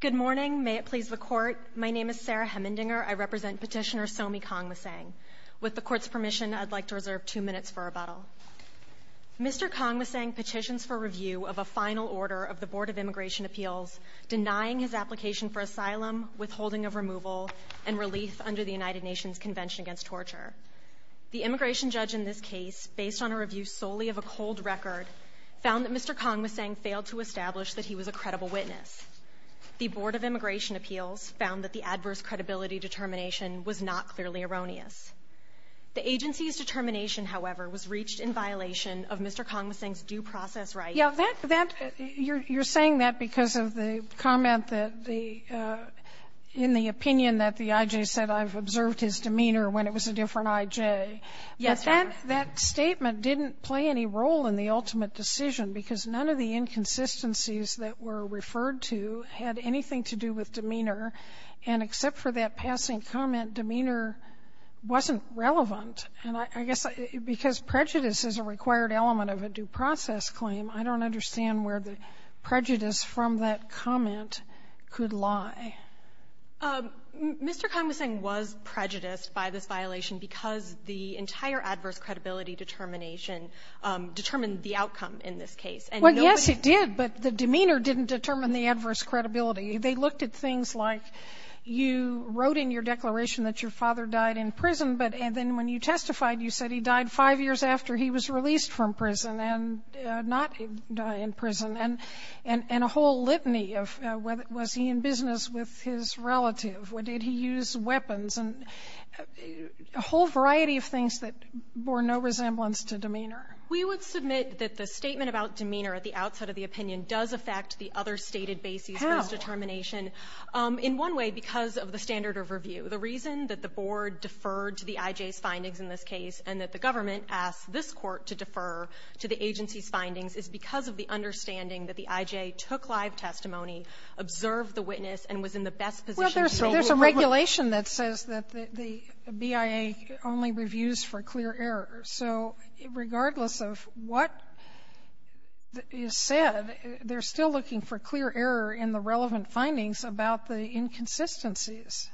Good morning. May it please the Court, my name is Sarah Hemmendinger. I represent Petitioner Somi Kongmasang. With the Court's permission, I'd like to reserve two minutes for rebuttal. Mr. Kongmasang petitions for review of a final order of the Board of Immigration Appeals denying his application for asylum, withholding of removal, and relief under the United Nations Convention Against Torture. The immigration judge in this case, based on a review solely of a cold record, found that Mr. Kongmasang failed to establish that he was a credible witness. The Board of Immigration Appeals found that the adverse credibility determination was not clearly erroneous. The agency's determination, however, was reached in violation of Mr. Kongmasang's due process rights. Sotomayor, you're saying that because of the comment that the — in the opinion that the I.J. said, I've observed his demeanor when it was a different I.J. Yes, ma'am. And that statement didn't play any role in the ultimate decision because none of the inconsistencies that were referred to had anything to do with demeanor. And except for that passing comment, demeanor wasn't relevant. And I guess because prejudice is a required element of a due process claim, I don't understand where the prejudice from that comment could lie. Mr. Kongmasang was prejudiced by this violation because the entire adverse credibility determination determined the outcome in this case, and nobody else. Well, yes, it did, but the demeanor didn't determine the adverse credibility. They looked at things like you wrote in your declaration that your father died in prison, but then when you testified, you said he died five years after he was released from prison and not die in prison, and a whole litany of was he in business with his relative, or did he use weapons, and a whole variety of things that bore no resemblance to demeanor. We would submit that the statement about demeanor at the outset of the opinion does affect the other stated basis for this determination. In one way, because of the standard of review. The reason that the Board deferred to the I.J.'s findings in this case and that the government asked this Court to defer to the agency's findings is because of the understanding that the I.J. took live testimony, observed the witness, and was in the best position Sotomayor, there's a regulation that says that the BIA only reviews for clear error. So regardless of what is said, they're still looking for clear error in the relevant findings about the inconsistencies.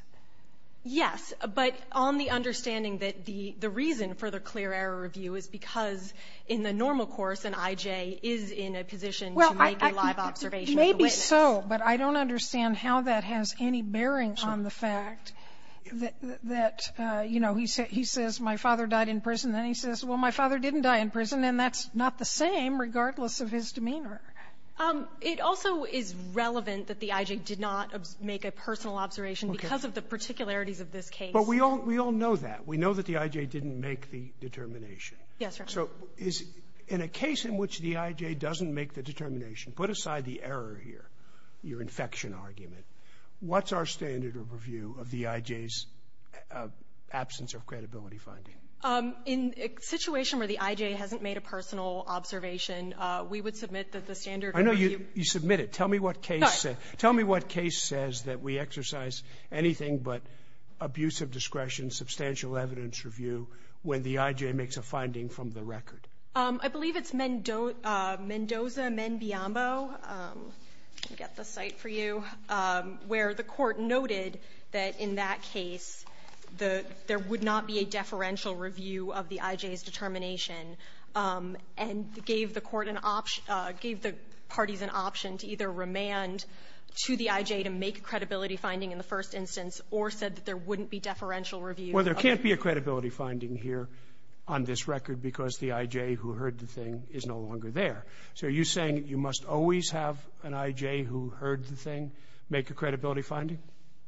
Yes. But on the understanding that the reason for the clear error review is because in the normal course, an I.J. is in a position to make a live observation of the witness. Well, maybe so, but I don't understand how that has any bearing on the fact that, you know, he says my father died in prison, then he says, well, my father didn't die in prison, and that's not the same regardless of his demeanor. It also is relevant that the I.J. did not make a personal observation because of the particularities of this case. But we all know that. We know that the I.J. didn't make the determination. Yes, Your Honor. So in a case in which the I.J. doesn't make the determination, put aside the error here, your infection argument, what's our standard of review of the I.J.'s absence of credibility finding? In a situation where the I.J. hasn't made a personal observation, we would submit that the standard review — I know you submit it. Tell me what case — No. Tell me what case says that we exercise anything but abusive discretion, substantial evidence review, when the I.J. makes a finding from the record. I believe it's Mendoza-Menbiombo — I'll get the site for you — where the Court noted that in that case, the — there would not be a deferential review of the I.J.'s determination, and gave the Court an option — gave the parties an option to either remand to the I.J. to make a credibility finding in the first instance or said that there wouldn't be deferential review. Well, there can't be a credibility finding here on this record because the I.J. who heard the thing is no longer there. So are you saying you must always have an I.J. who heard the thing make a credibility finding?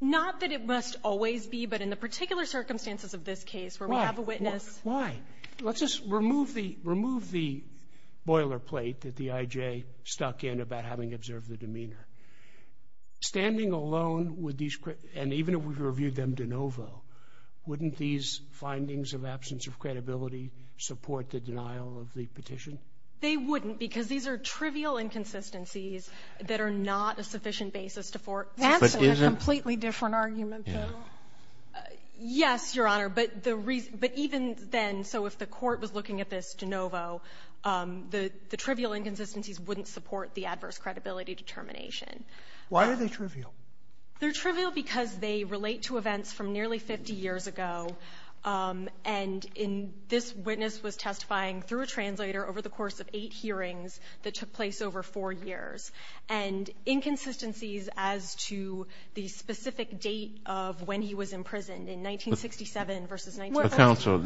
Not that it must always be, but in the particular circumstances of this case where we have a witness — Why? Why? Let's just remove the — remove the boilerplate that the I.J. stuck in about having observed the demeanor. Standing alone with these — and even if we reviewed them de novo, wouldn't these findings of absence of credibility support the denial of the petition? They wouldn't because these are trivial inconsistencies that are not a sufficient basis to fort. That's a completely different argument, though. Yes, Your Honor. But the reason — but even then, so if the Court was looking at this de novo, the trivial inconsistencies wouldn't support the adverse credibility determination. Why are they trivial? They're trivial because they relate to events from nearly 50 years ago, and in — this witness was testifying through a translator over the course of eight hearings that took place over four years, and inconsistencies as to the specific date of when he was imprisoned in 1967 versus — But, counsel,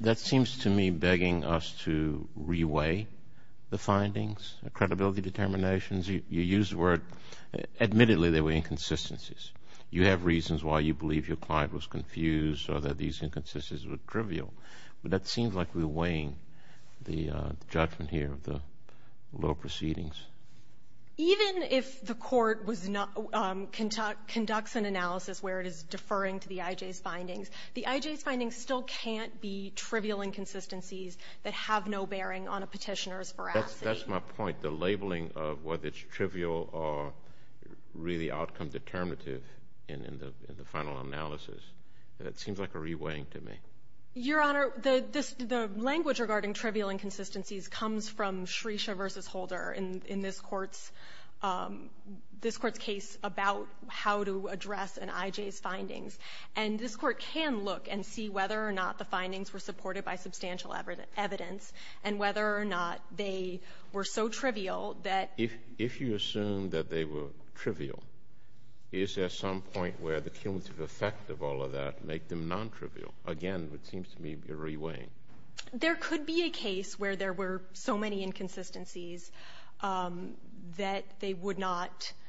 that seems to me begging us to reweigh the findings, the credibility determinations. You used the word — admittedly, they were inconsistencies. You have reasons why you believe your client was confused or that these inconsistencies were trivial, but that seems like we're weighing the judgment here of the lower proceedings. Even if the Court was not — conducts an analysis where it is deferring to the I.J.'s findings, still can't be trivial inconsistencies that have no bearing on a Petitioner's veracity. That's my point. The labeling of whether it's trivial or really outcome-determinative in the final analysis, that seems like a reweighing to me. Your Honor, the language regarding trivial inconsistencies comes from Shresha versus Holder in this Court's — this Court's case about how to address an I.J.'s findings. And this Court can look and see whether or not the findings were supported by substantial evidence, and whether or not they were so trivial that — If you assume that they were trivial, is there some point where the cumulative effect of all of that make them nontrivial? Again, it seems to me you're reweighing. There could be a case where there were so many inconsistencies that they would not —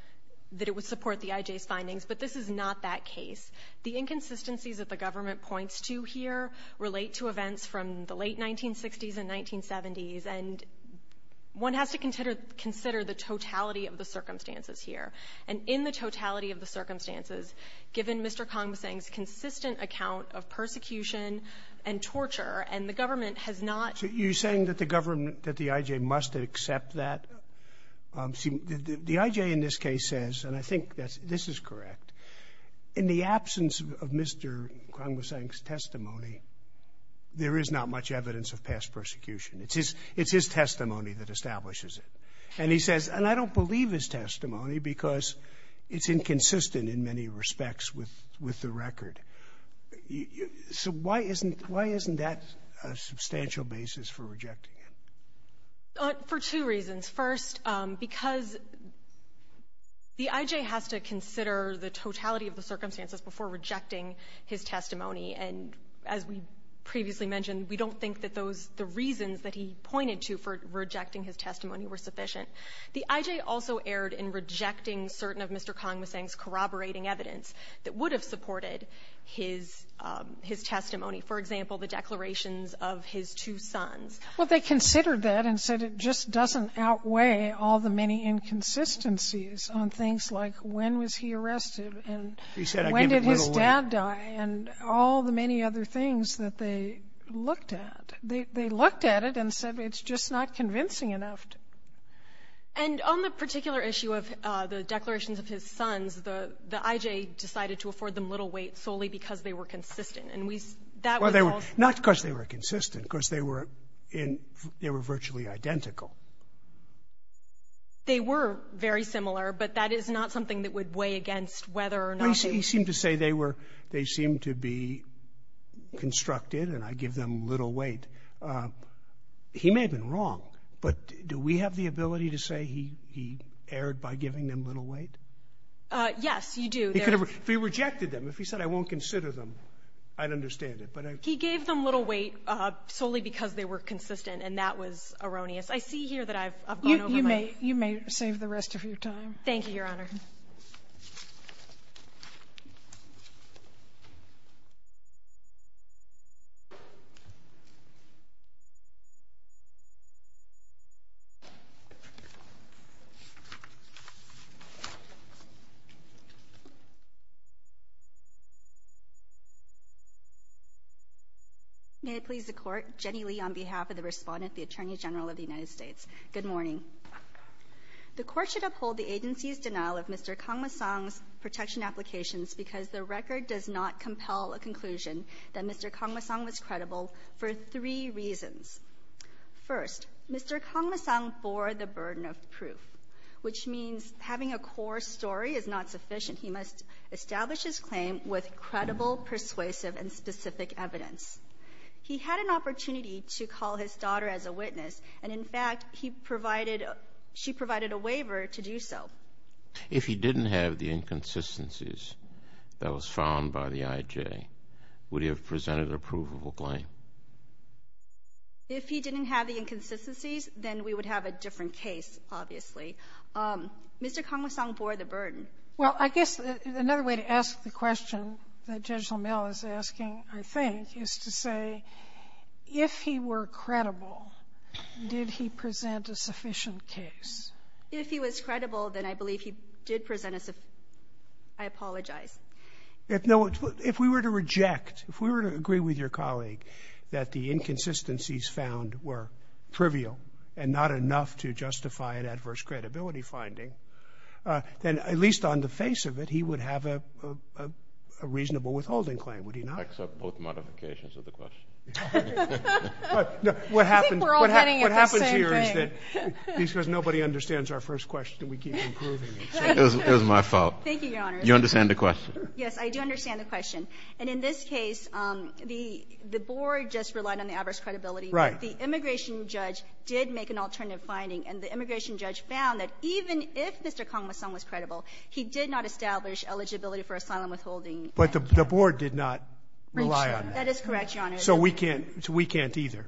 that it would support the I.J.'s findings, but this is not that case. The inconsistencies that the government points to here relate to events from the late 1960s and 1970s, and one has to consider — consider the totality of the circumstances here. And in the totality of the circumstances, given Mr. Congvasing's consistent account of persecution and torture, and the government has not — So you're saying that the government — that the I.J. must accept that? See, the I.J. in this case says, and I think that this is correct, in the absence of Mr. Congvasing's testimony, there is not much evidence of past persecution. It's his — it's his testimony that establishes it. And he says, and I don't believe his testimony because it's inconsistent in many respects with — with the record. So why isn't — why isn't that a substantial basis for rejecting it? For two reasons. First, because the I.J. has to consider the totality of the circumstances before rejecting his testimony, and as we previously mentioned, we don't think that those — the reasons that he pointed to for rejecting his testimony were sufficient. The I.J. also erred in rejecting certain of Mr. Congvasing's corroborating evidence that would have supported his — his testimony, for example, the declarations of his two sons. Well, they considered that and said it just doesn't outweigh all the many inconsistencies on things like when was he arrested and when did his dad die and all the many other things that they looked at. They looked at it and said it's just not convincing enough. And on the particular issue of the declarations of his sons, the — the I.J. decided to afford them little weight solely because they were consistent, and we — that was all — Well, they were — not because they were consistent, because they were in — they were virtually identical. They were very similar, but that is not something that would weigh against whether or not he — Well, he seemed to say they were — they seemed to be constructed, and I give them little weight. He may have been wrong, but do we have the ability to say he — he erred by giving them little weight? Yes, you do. He could have — if he rejected them, if he said I won't consider them, I'd understand it, but I — He gave them little weight solely because they were consistent, and that was erroneous. I see here that I've gone over my — You may — you may save the rest of your time. Thank you, Your Honor. Thank you, Your Honor. May it please the Court, Jenny Lee on behalf of the Respondent, the Attorney General of the United States. Good morning. The Court should uphold the agency's denial of Mr. Kangmasang's protection applications because the record does not compel a conclusion that Mr. Kangmasang was credible for three reasons. First, Mr. Kangmasang bore the burden of proof, which means having a core story is not sufficient. He must establish his claim with credible, persuasive, and specific evidence. He had an opportunity to call his daughter as a witness, and in fact, he provided — she provided a waiver to do so. If he didn't have the inconsistencies that was found by the IJ, would he have presented an approvable claim? If he didn't have the inconsistencies, then we would have a different case, obviously. Mr. Kangmasang bore the burden. Well, I guess another way to ask the question that Judge Lamel is asking, I think, is to say, if he were credible, did he present a sufficient case? If he was credible, then I believe he did present a — I apologize. No. If we were to reject, if we were to agree with your colleague that the inconsistencies found were trivial and not enough to justify an adverse credibility finding, then at least on the face of it, he would have a reasonable withholding claim, would he not? Except both modifications of the question. I think we're all hitting at the same thing. What happens here is that nobody understands our first question, and we keep improving it. It was my fault. Thank you, Your Honor. You understand the question? Yes, I do understand the question. And in this case, the Board just relied on the adverse credibility. Right. The immigration judge did make an alternative finding, and the immigration judge found that even if Mr. Kangmasang was credible, he did not establish eligibility for asylum withholding. But the Board did not rely on that. That is correct, Your Honor. So we can't either.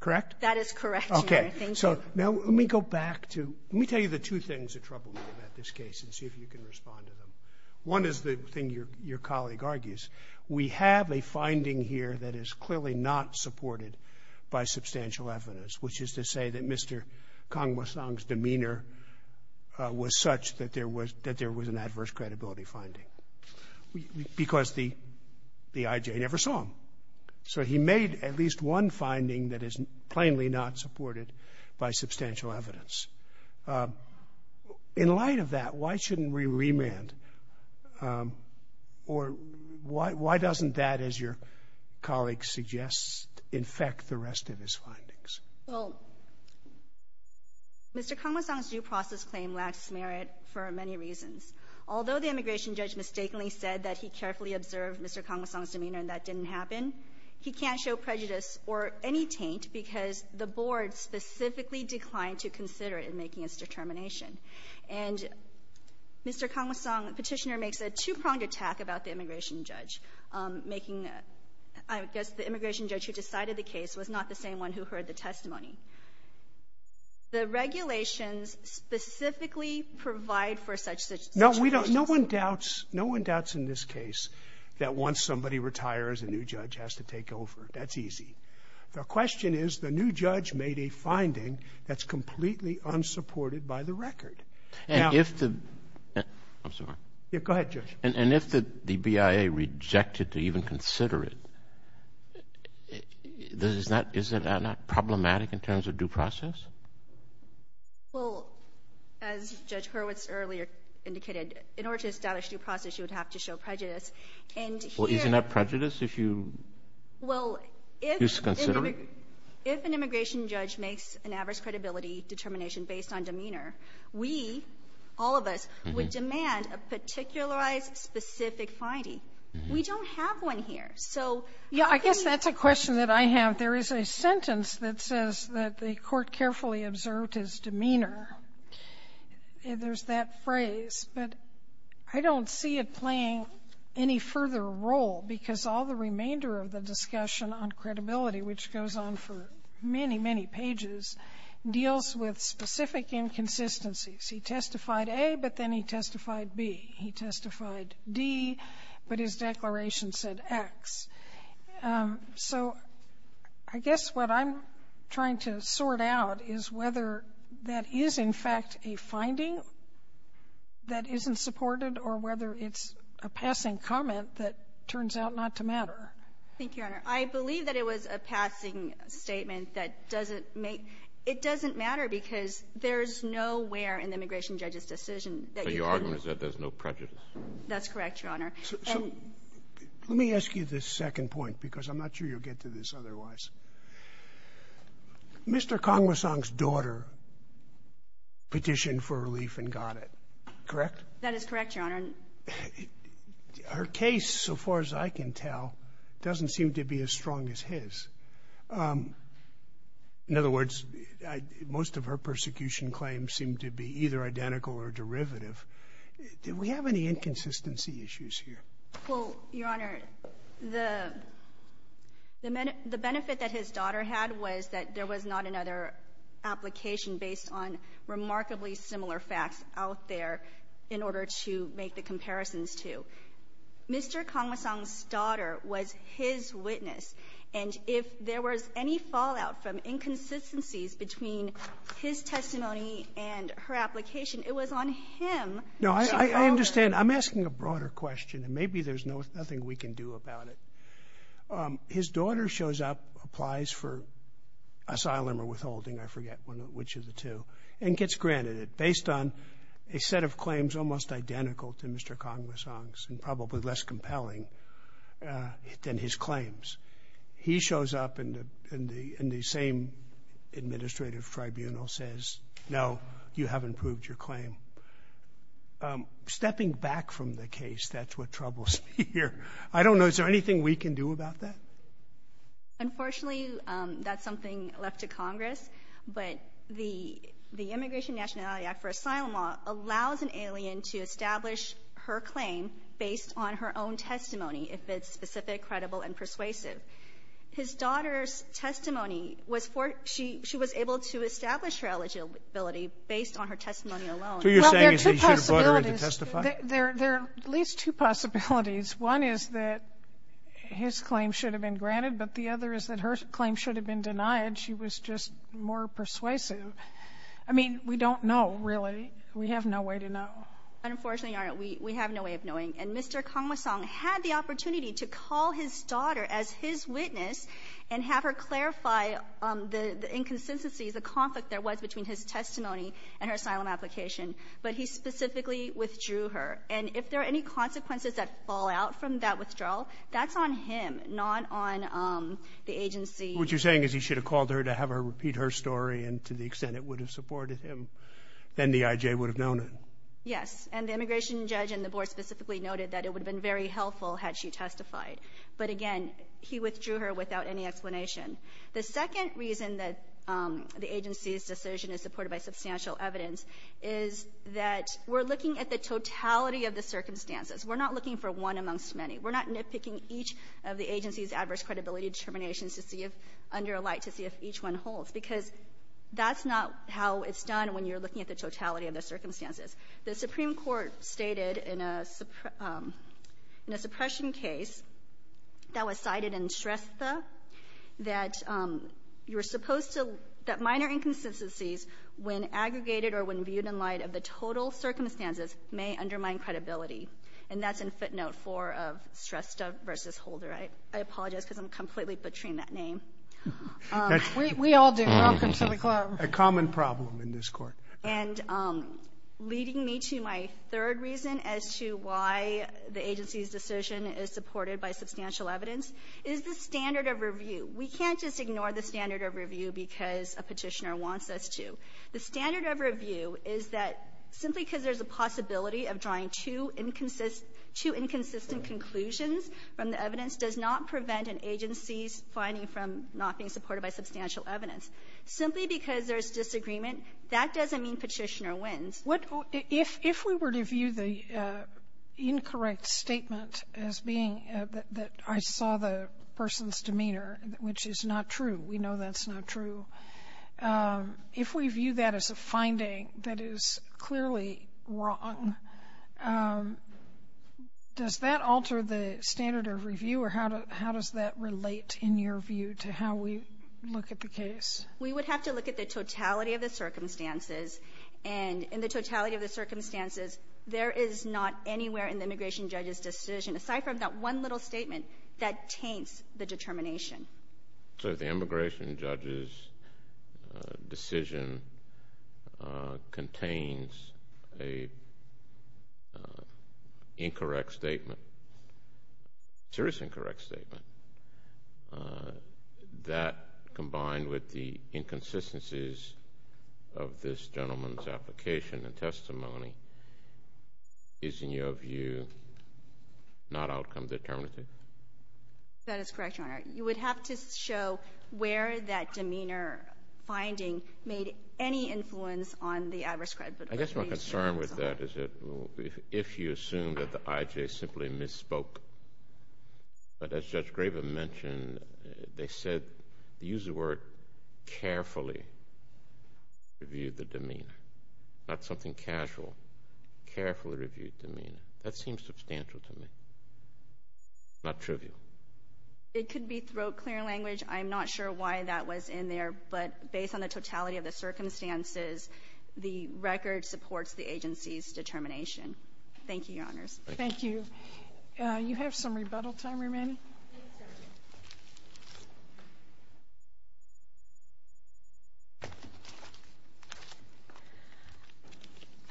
Correct? That is correct, Your Honor. Thank you. Okay. So now let me go back to — let me tell you the two things that trouble me about this case and see if you can respond to them. One is the thing your colleague argues. We have a finding here that is clearly not supported by substantial evidence, which is to say that Mr. Kangmasang's demeanor was such that there was an adverse credibility finding because the IJ never saw him. So he made at least one finding that is plainly not supported by substantial evidence. In light of that, why shouldn't we remand? Or why doesn't that, as your colleague suggests, infect the rest of his findings? Well, Mr. Kangmasang's due process claim lacks merit for many reasons. Although the immigration judge mistakenly said that he carefully observed Mr. Kangmasang's demeanor and that didn't happen, he can't show prejudice or any taint because the Board specifically declined to consider it in making its determination. And Mr. Kangmasang, Petitioner, makes a two-pronged attack about the immigration judge, making — I guess the immigration judge who decided the case was not the same one who heard the testimony. The regulations specifically provide for such situations. No, we don't. No one doubts — no one doubts in this case that once somebody retires, a new judge has to take over. That's easy. The question is the new judge made a finding that's completely unsupported by the record. And if the — I'm sorry. Go ahead, Judge. And if the BIA rejected to even consider it, is that not problematic in terms of due process? Well, as Judge Hurwitz earlier indicated, in order to establish due process, you would have to show prejudice. And here — Well, isn't that prejudice if you — Well, if — If you consider it? If an immigration judge makes an adverse credibility determination based on demeanor, we, all of us, would demand a particularized, specific finding. We don't have one here. So how can — Yeah, I guess that's a question that I have. There is a sentence that says that the Court carefully observed his demeanor. There's that phrase. But I don't see it playing any further role, because all the remainder of the discussion on credibility, which goes on for many, many pages, deals with specific inconsistencies. He testified A, but then he testified B. He testified D, but his declaration said X. So I guess what I'm trying to sort out is whether that is, in fact, a finding that isn't supported or whether it's a passing comment that turns out not to matter. Thank you, Your Honor. I believe that it was a passing statement that doesn't make — it doesn't matter, because there's nowhere in the immigration judge's decision that you can argue. So your argument is that there's no prejudice? That's correct, Your Honor. So let me ask you this second point, because I'm not sure you'll get to this otherwise. Mr. Kongmasang's daughter petitioned for relief and got it, correct? That is correct, Your Honor. Her case, so far as I can tell, doesn't seem to be as strong as his. In other words, most of her persecution claims seem to be either identical or derivative. Do we have any inconsistency issues here? Well, Your Honor, the benefit that his daughter had was that there was not another application based on remarkably similar facts out there in order to make the comparisons to. Mr. Kongmasang's daughter was his witness, and if there was any fallout from inconsistencies between his testimony and her application, it was on him. No, I understand. I'm asking a broader question, and maybe there's nothing we can do about it. His daughter shows up, applies for asylum or withholding, I forget which of the two, and gets granted it based on a set of claims almost identical to Mr. Kongmasang's and probably less compelling than his claims. He shows up, and the same administrative tribunal says, no, you haven't proved your claim. Stepping back from the case, that's what troubles me here. I don't know. Is there anything we can do about that? Unfortunately, that's something left to Congress, but the Immigration Nationality Act for Asylum Law allows an alien to establish her claim based on her own testimony if it's specific, credible, and persuasive. His daughter's testimony was for her. She was able to establish her eligibility based on her testimony alone. So you're saying he should have brought her in to testify? There are at least two possibilities. One is that his claim should have been granted, but the other is that her claim should have been denied. She was just more persuasive. I mean, we don't know, really. We have no way to know. Unfortunately, Your Honor, we have no way of knowing. And Mr. Kongmasang had the opportunity to call his daughter as his witness and have her clarify the inconsistencies, the conflict there was between his testimony and her asylum application, but he specifically withdrew her. And if there are any consequences that fall out from that withdrawal, that's on him, not on the agency. What you're saying is he should have called her to have her repeat her story and to the extent it would have supported him. Then the I.J. would have known it. Yes. And the immigration judge and the board specifically noted that it would have been very helpful had she testified. But again, he withdrew her without any explanation. The second reason that the agency's decision is supported by substantial evidence is that we're looking at the totality of the circumstances. We're not looking for one amongst many. We're not nitpicking each of the agency's adverse credibility determinations to see if under a light to see if each one holds, because that's not how it's done when you're looking at the totality of the circumstances. The Supreme Court stated in a suppression case that was cited in Shrestha that you circumstances may undermine credibility. And that's in footnote 4 of Shrestha v. Holder. I apologize because I'm completely butchering that name. We all do. Welcome to the club. A common problem in this Court. And leading me to my third reason as to why the agency's decision is supported by substantial evidence is the standard of review. We can't just ignore the standard of review because a Petitioner wants us to. The standard of review is that simply because there's a possibility of drawing two inconsistent conclusions from the evidence does not prevent an agency's finding from not being supported by substantial evidence. Simply because there's disagreement, that doesn't mean Petitioner wins. Sotomayor, if we were to view the incorrect statement as being that I saw the person's finding that is clearly wrong, does that alter the standard of review, or how does that relate in your view to how we look at the case? We would have to look at the totality of the circumstances. And in the totality of the circumstances, there is not anywhere in the immigration judge's decision, aside from that one little statement, that taints the determination. So if the immigration judge's decision contains an incorrect statement, serious incorrect statement, that combined with the inconsistencies of this gentleman's application and testimony, is in your view not outcome determinative? That is correct, Your Honor. You would have to show where that demeanor finding made any influence on the address credit. I guess my concern with that is that if you assume that the IJ simply misspoke, but as Judge Graven mentioned, they said, they used the word carefully reviewed the demeanor, not something casual. Carefully reviewed demeanor. That seems substantial to me, not trivial. It could be throat clear language. I'm not sure why that was in there. But based on the totality of the circumstances, the record supports the agency's determination. Thank you, Your Honors. Thank you. You have some rebuttal time remaining.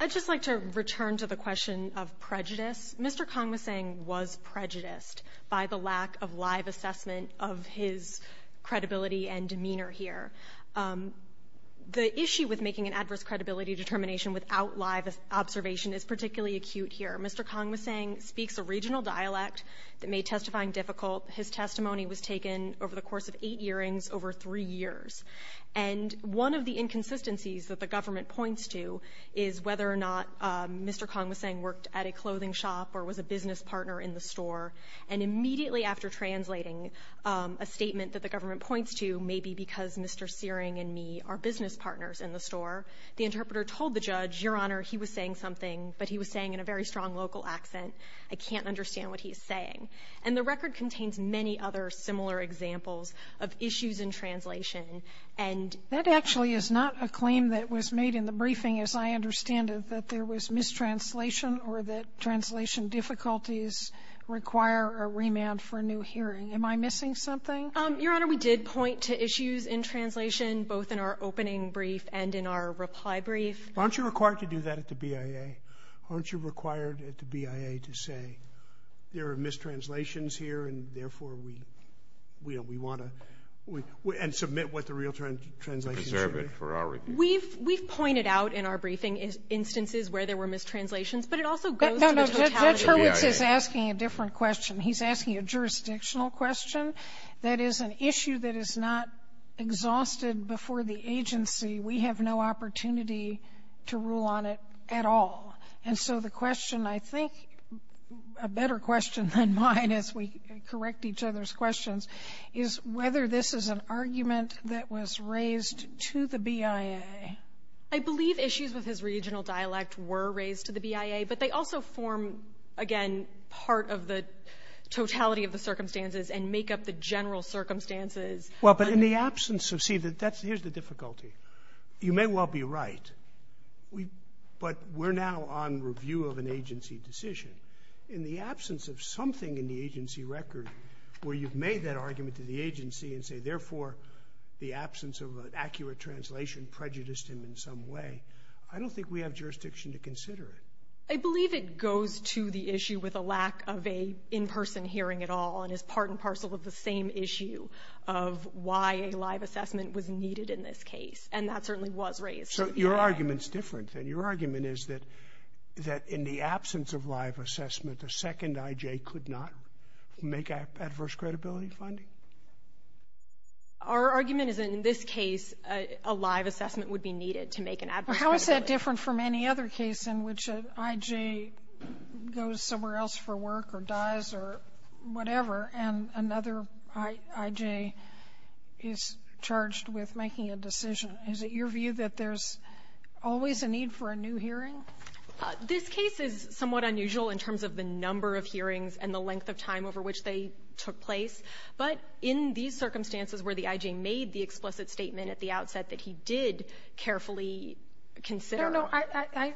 I'd just like to return to the question of prejudice. Mr. Kong was saying was prejudiced by the lack of live assessment of his credibility and demeanor here. The issue with making an adverse credibility determination without live observation is particularly acute here. Mr. Kong was saying speaks a regional dialect that made testifying difficult. His testimony was taken over the course of eight hearings over three years. And one of the inconsistencies that the government points to is whether or not Mr. Kong was a clothing shop or was a business partner in the store. And immediately after translating a statement that the government points to, maybe because Mr. Searing and me are business partners in the store, the interpreter told the judge, Your Honor, he was saying something, but he was saying in a very strong local accent, I can't understand what he's saying. And the record contains many other similar examples of issues in translation. And that actually is not a claim that was made in the briefing, as I understand it, that there was mistranslation or that translation difficulties require a remand for a new hearing. Am I missing something? Your Honor, we did point to issues in translation both in our opening brief and in our reply brief. Aren't you required to do that at the BIA? Aren't you required at the BIA to say there are mistranslations here and, therefore, we want to and submit what the real translations are? Preserve it for our review. We've pointed out in our briefing instances where there were mistranslations, but it also goes to the totality of the BIA. No, no. Judge Hurwitz is asking a different question. He's asking a jurisdictional question that is an issue that is not exhausted before the agency. We have no opportunity to rule on it at all. And so the question, I think, a better question than mine as we correct each other's questions, is whether this is an argument that was raised to the BIA. I believe issues with his regional dialect were raised to the BIA, but they also form, again, part of the totality of the circumstances and make up the general circumstances. Well, but in the absence of, see, here's the difficulty. You may well be right, but we're now on review of an agency decision. In the absence of something in the agency record where you've made that argument to the agency and say, therefore, the absence of an accurate translation prejudiced him in some way, I don't think we have jurisdiction to consider it. I believe it goes to the issue with a lack of a in-person hearing at all and is part and parcel of the same issue of why a live assessment was needed in this case, and that certainly was raised to the BIA. So your argument's different, then. Your argument is that in the absence of live assessment, a second IJ could not make adverse credibility finding? Our argument is that in this case, a live assessment would be needed to make an adverse credibility. But how is that different from any other case in which an IJ goes somewhere else for work or dies or whatever, and another IJ is charged with making a decision? Is it your view that there's always a need for a new hearing? This case is somewhat unusual in terms of the number of hearings and the length of time over which they took place, but in these circumstances where the IJ made the explicit statement at the outset that he did carefully consider? No, no.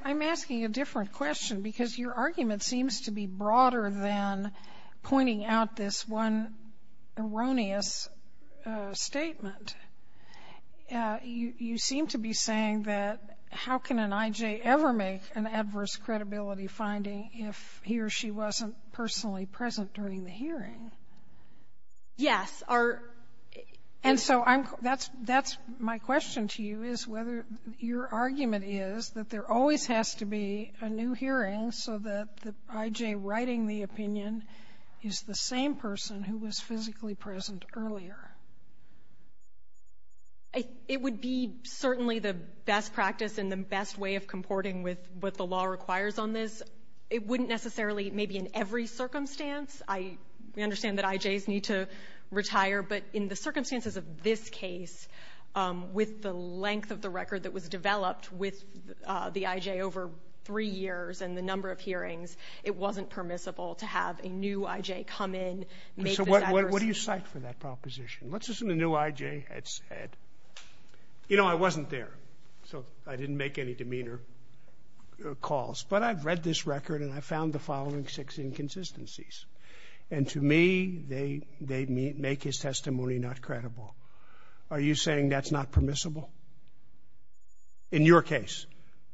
I'm asking a different question because your argument seems to be broader than pointing out this one erroneous statement. You seem to be saying that how can an IJ ever make an adverse credibility finding if he or she wasn't personally present during the hearing? Yes, our ---- And so that's my question to you, is whether your argument is that there always has to be a new hearing so that the IJ writing the opinion is the same person who was physically present earlier? It would be certainly the best practice and the best way of comporting with what the law requires on this. It wouldn't necessarily, maybe in every circumstance I understand that IJs need to retire, but in the circumstances of this case, with the length of the record that was developed with the IJ over three years and the number of hearings, it wasn't permissible to have a new IJ come in, make this adverse ---- So what do you cite for that proposition? Let's listen to what the new IJ had said. You know, I wasn't there, so I didn't make any demeanor calls, but I've read this record and I found the following six inconsistencies. And to me, they make his testimony not credible. Are you saying that's not permissible? In your case,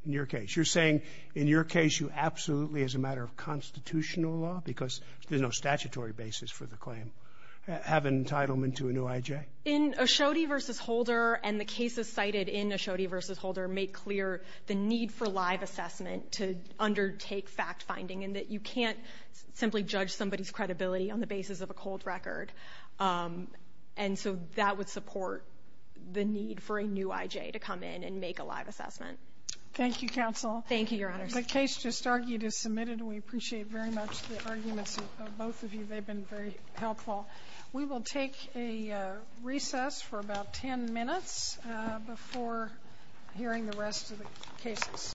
in your case. You're saying in your case you absolutely, as a matter of constitutional law, because there's no statutory basis for the claim, have entitlement to a new IJ? In O'Shodey v. Holder, and the cases cited in O'Shodey v. Holder make clear the need for live assessment to undertake fact-finding and that you can't simply judge somebody's credibility on the basis of a cold record. And so that would support the need for a new IJ to come in and make a live assessment. Thank you, counsel. Thank you, Your Honors. The case just argued is submitted and we appreciate very much the arguments of We'll take a recess for about 10 minutes before hearing the rest of the cases.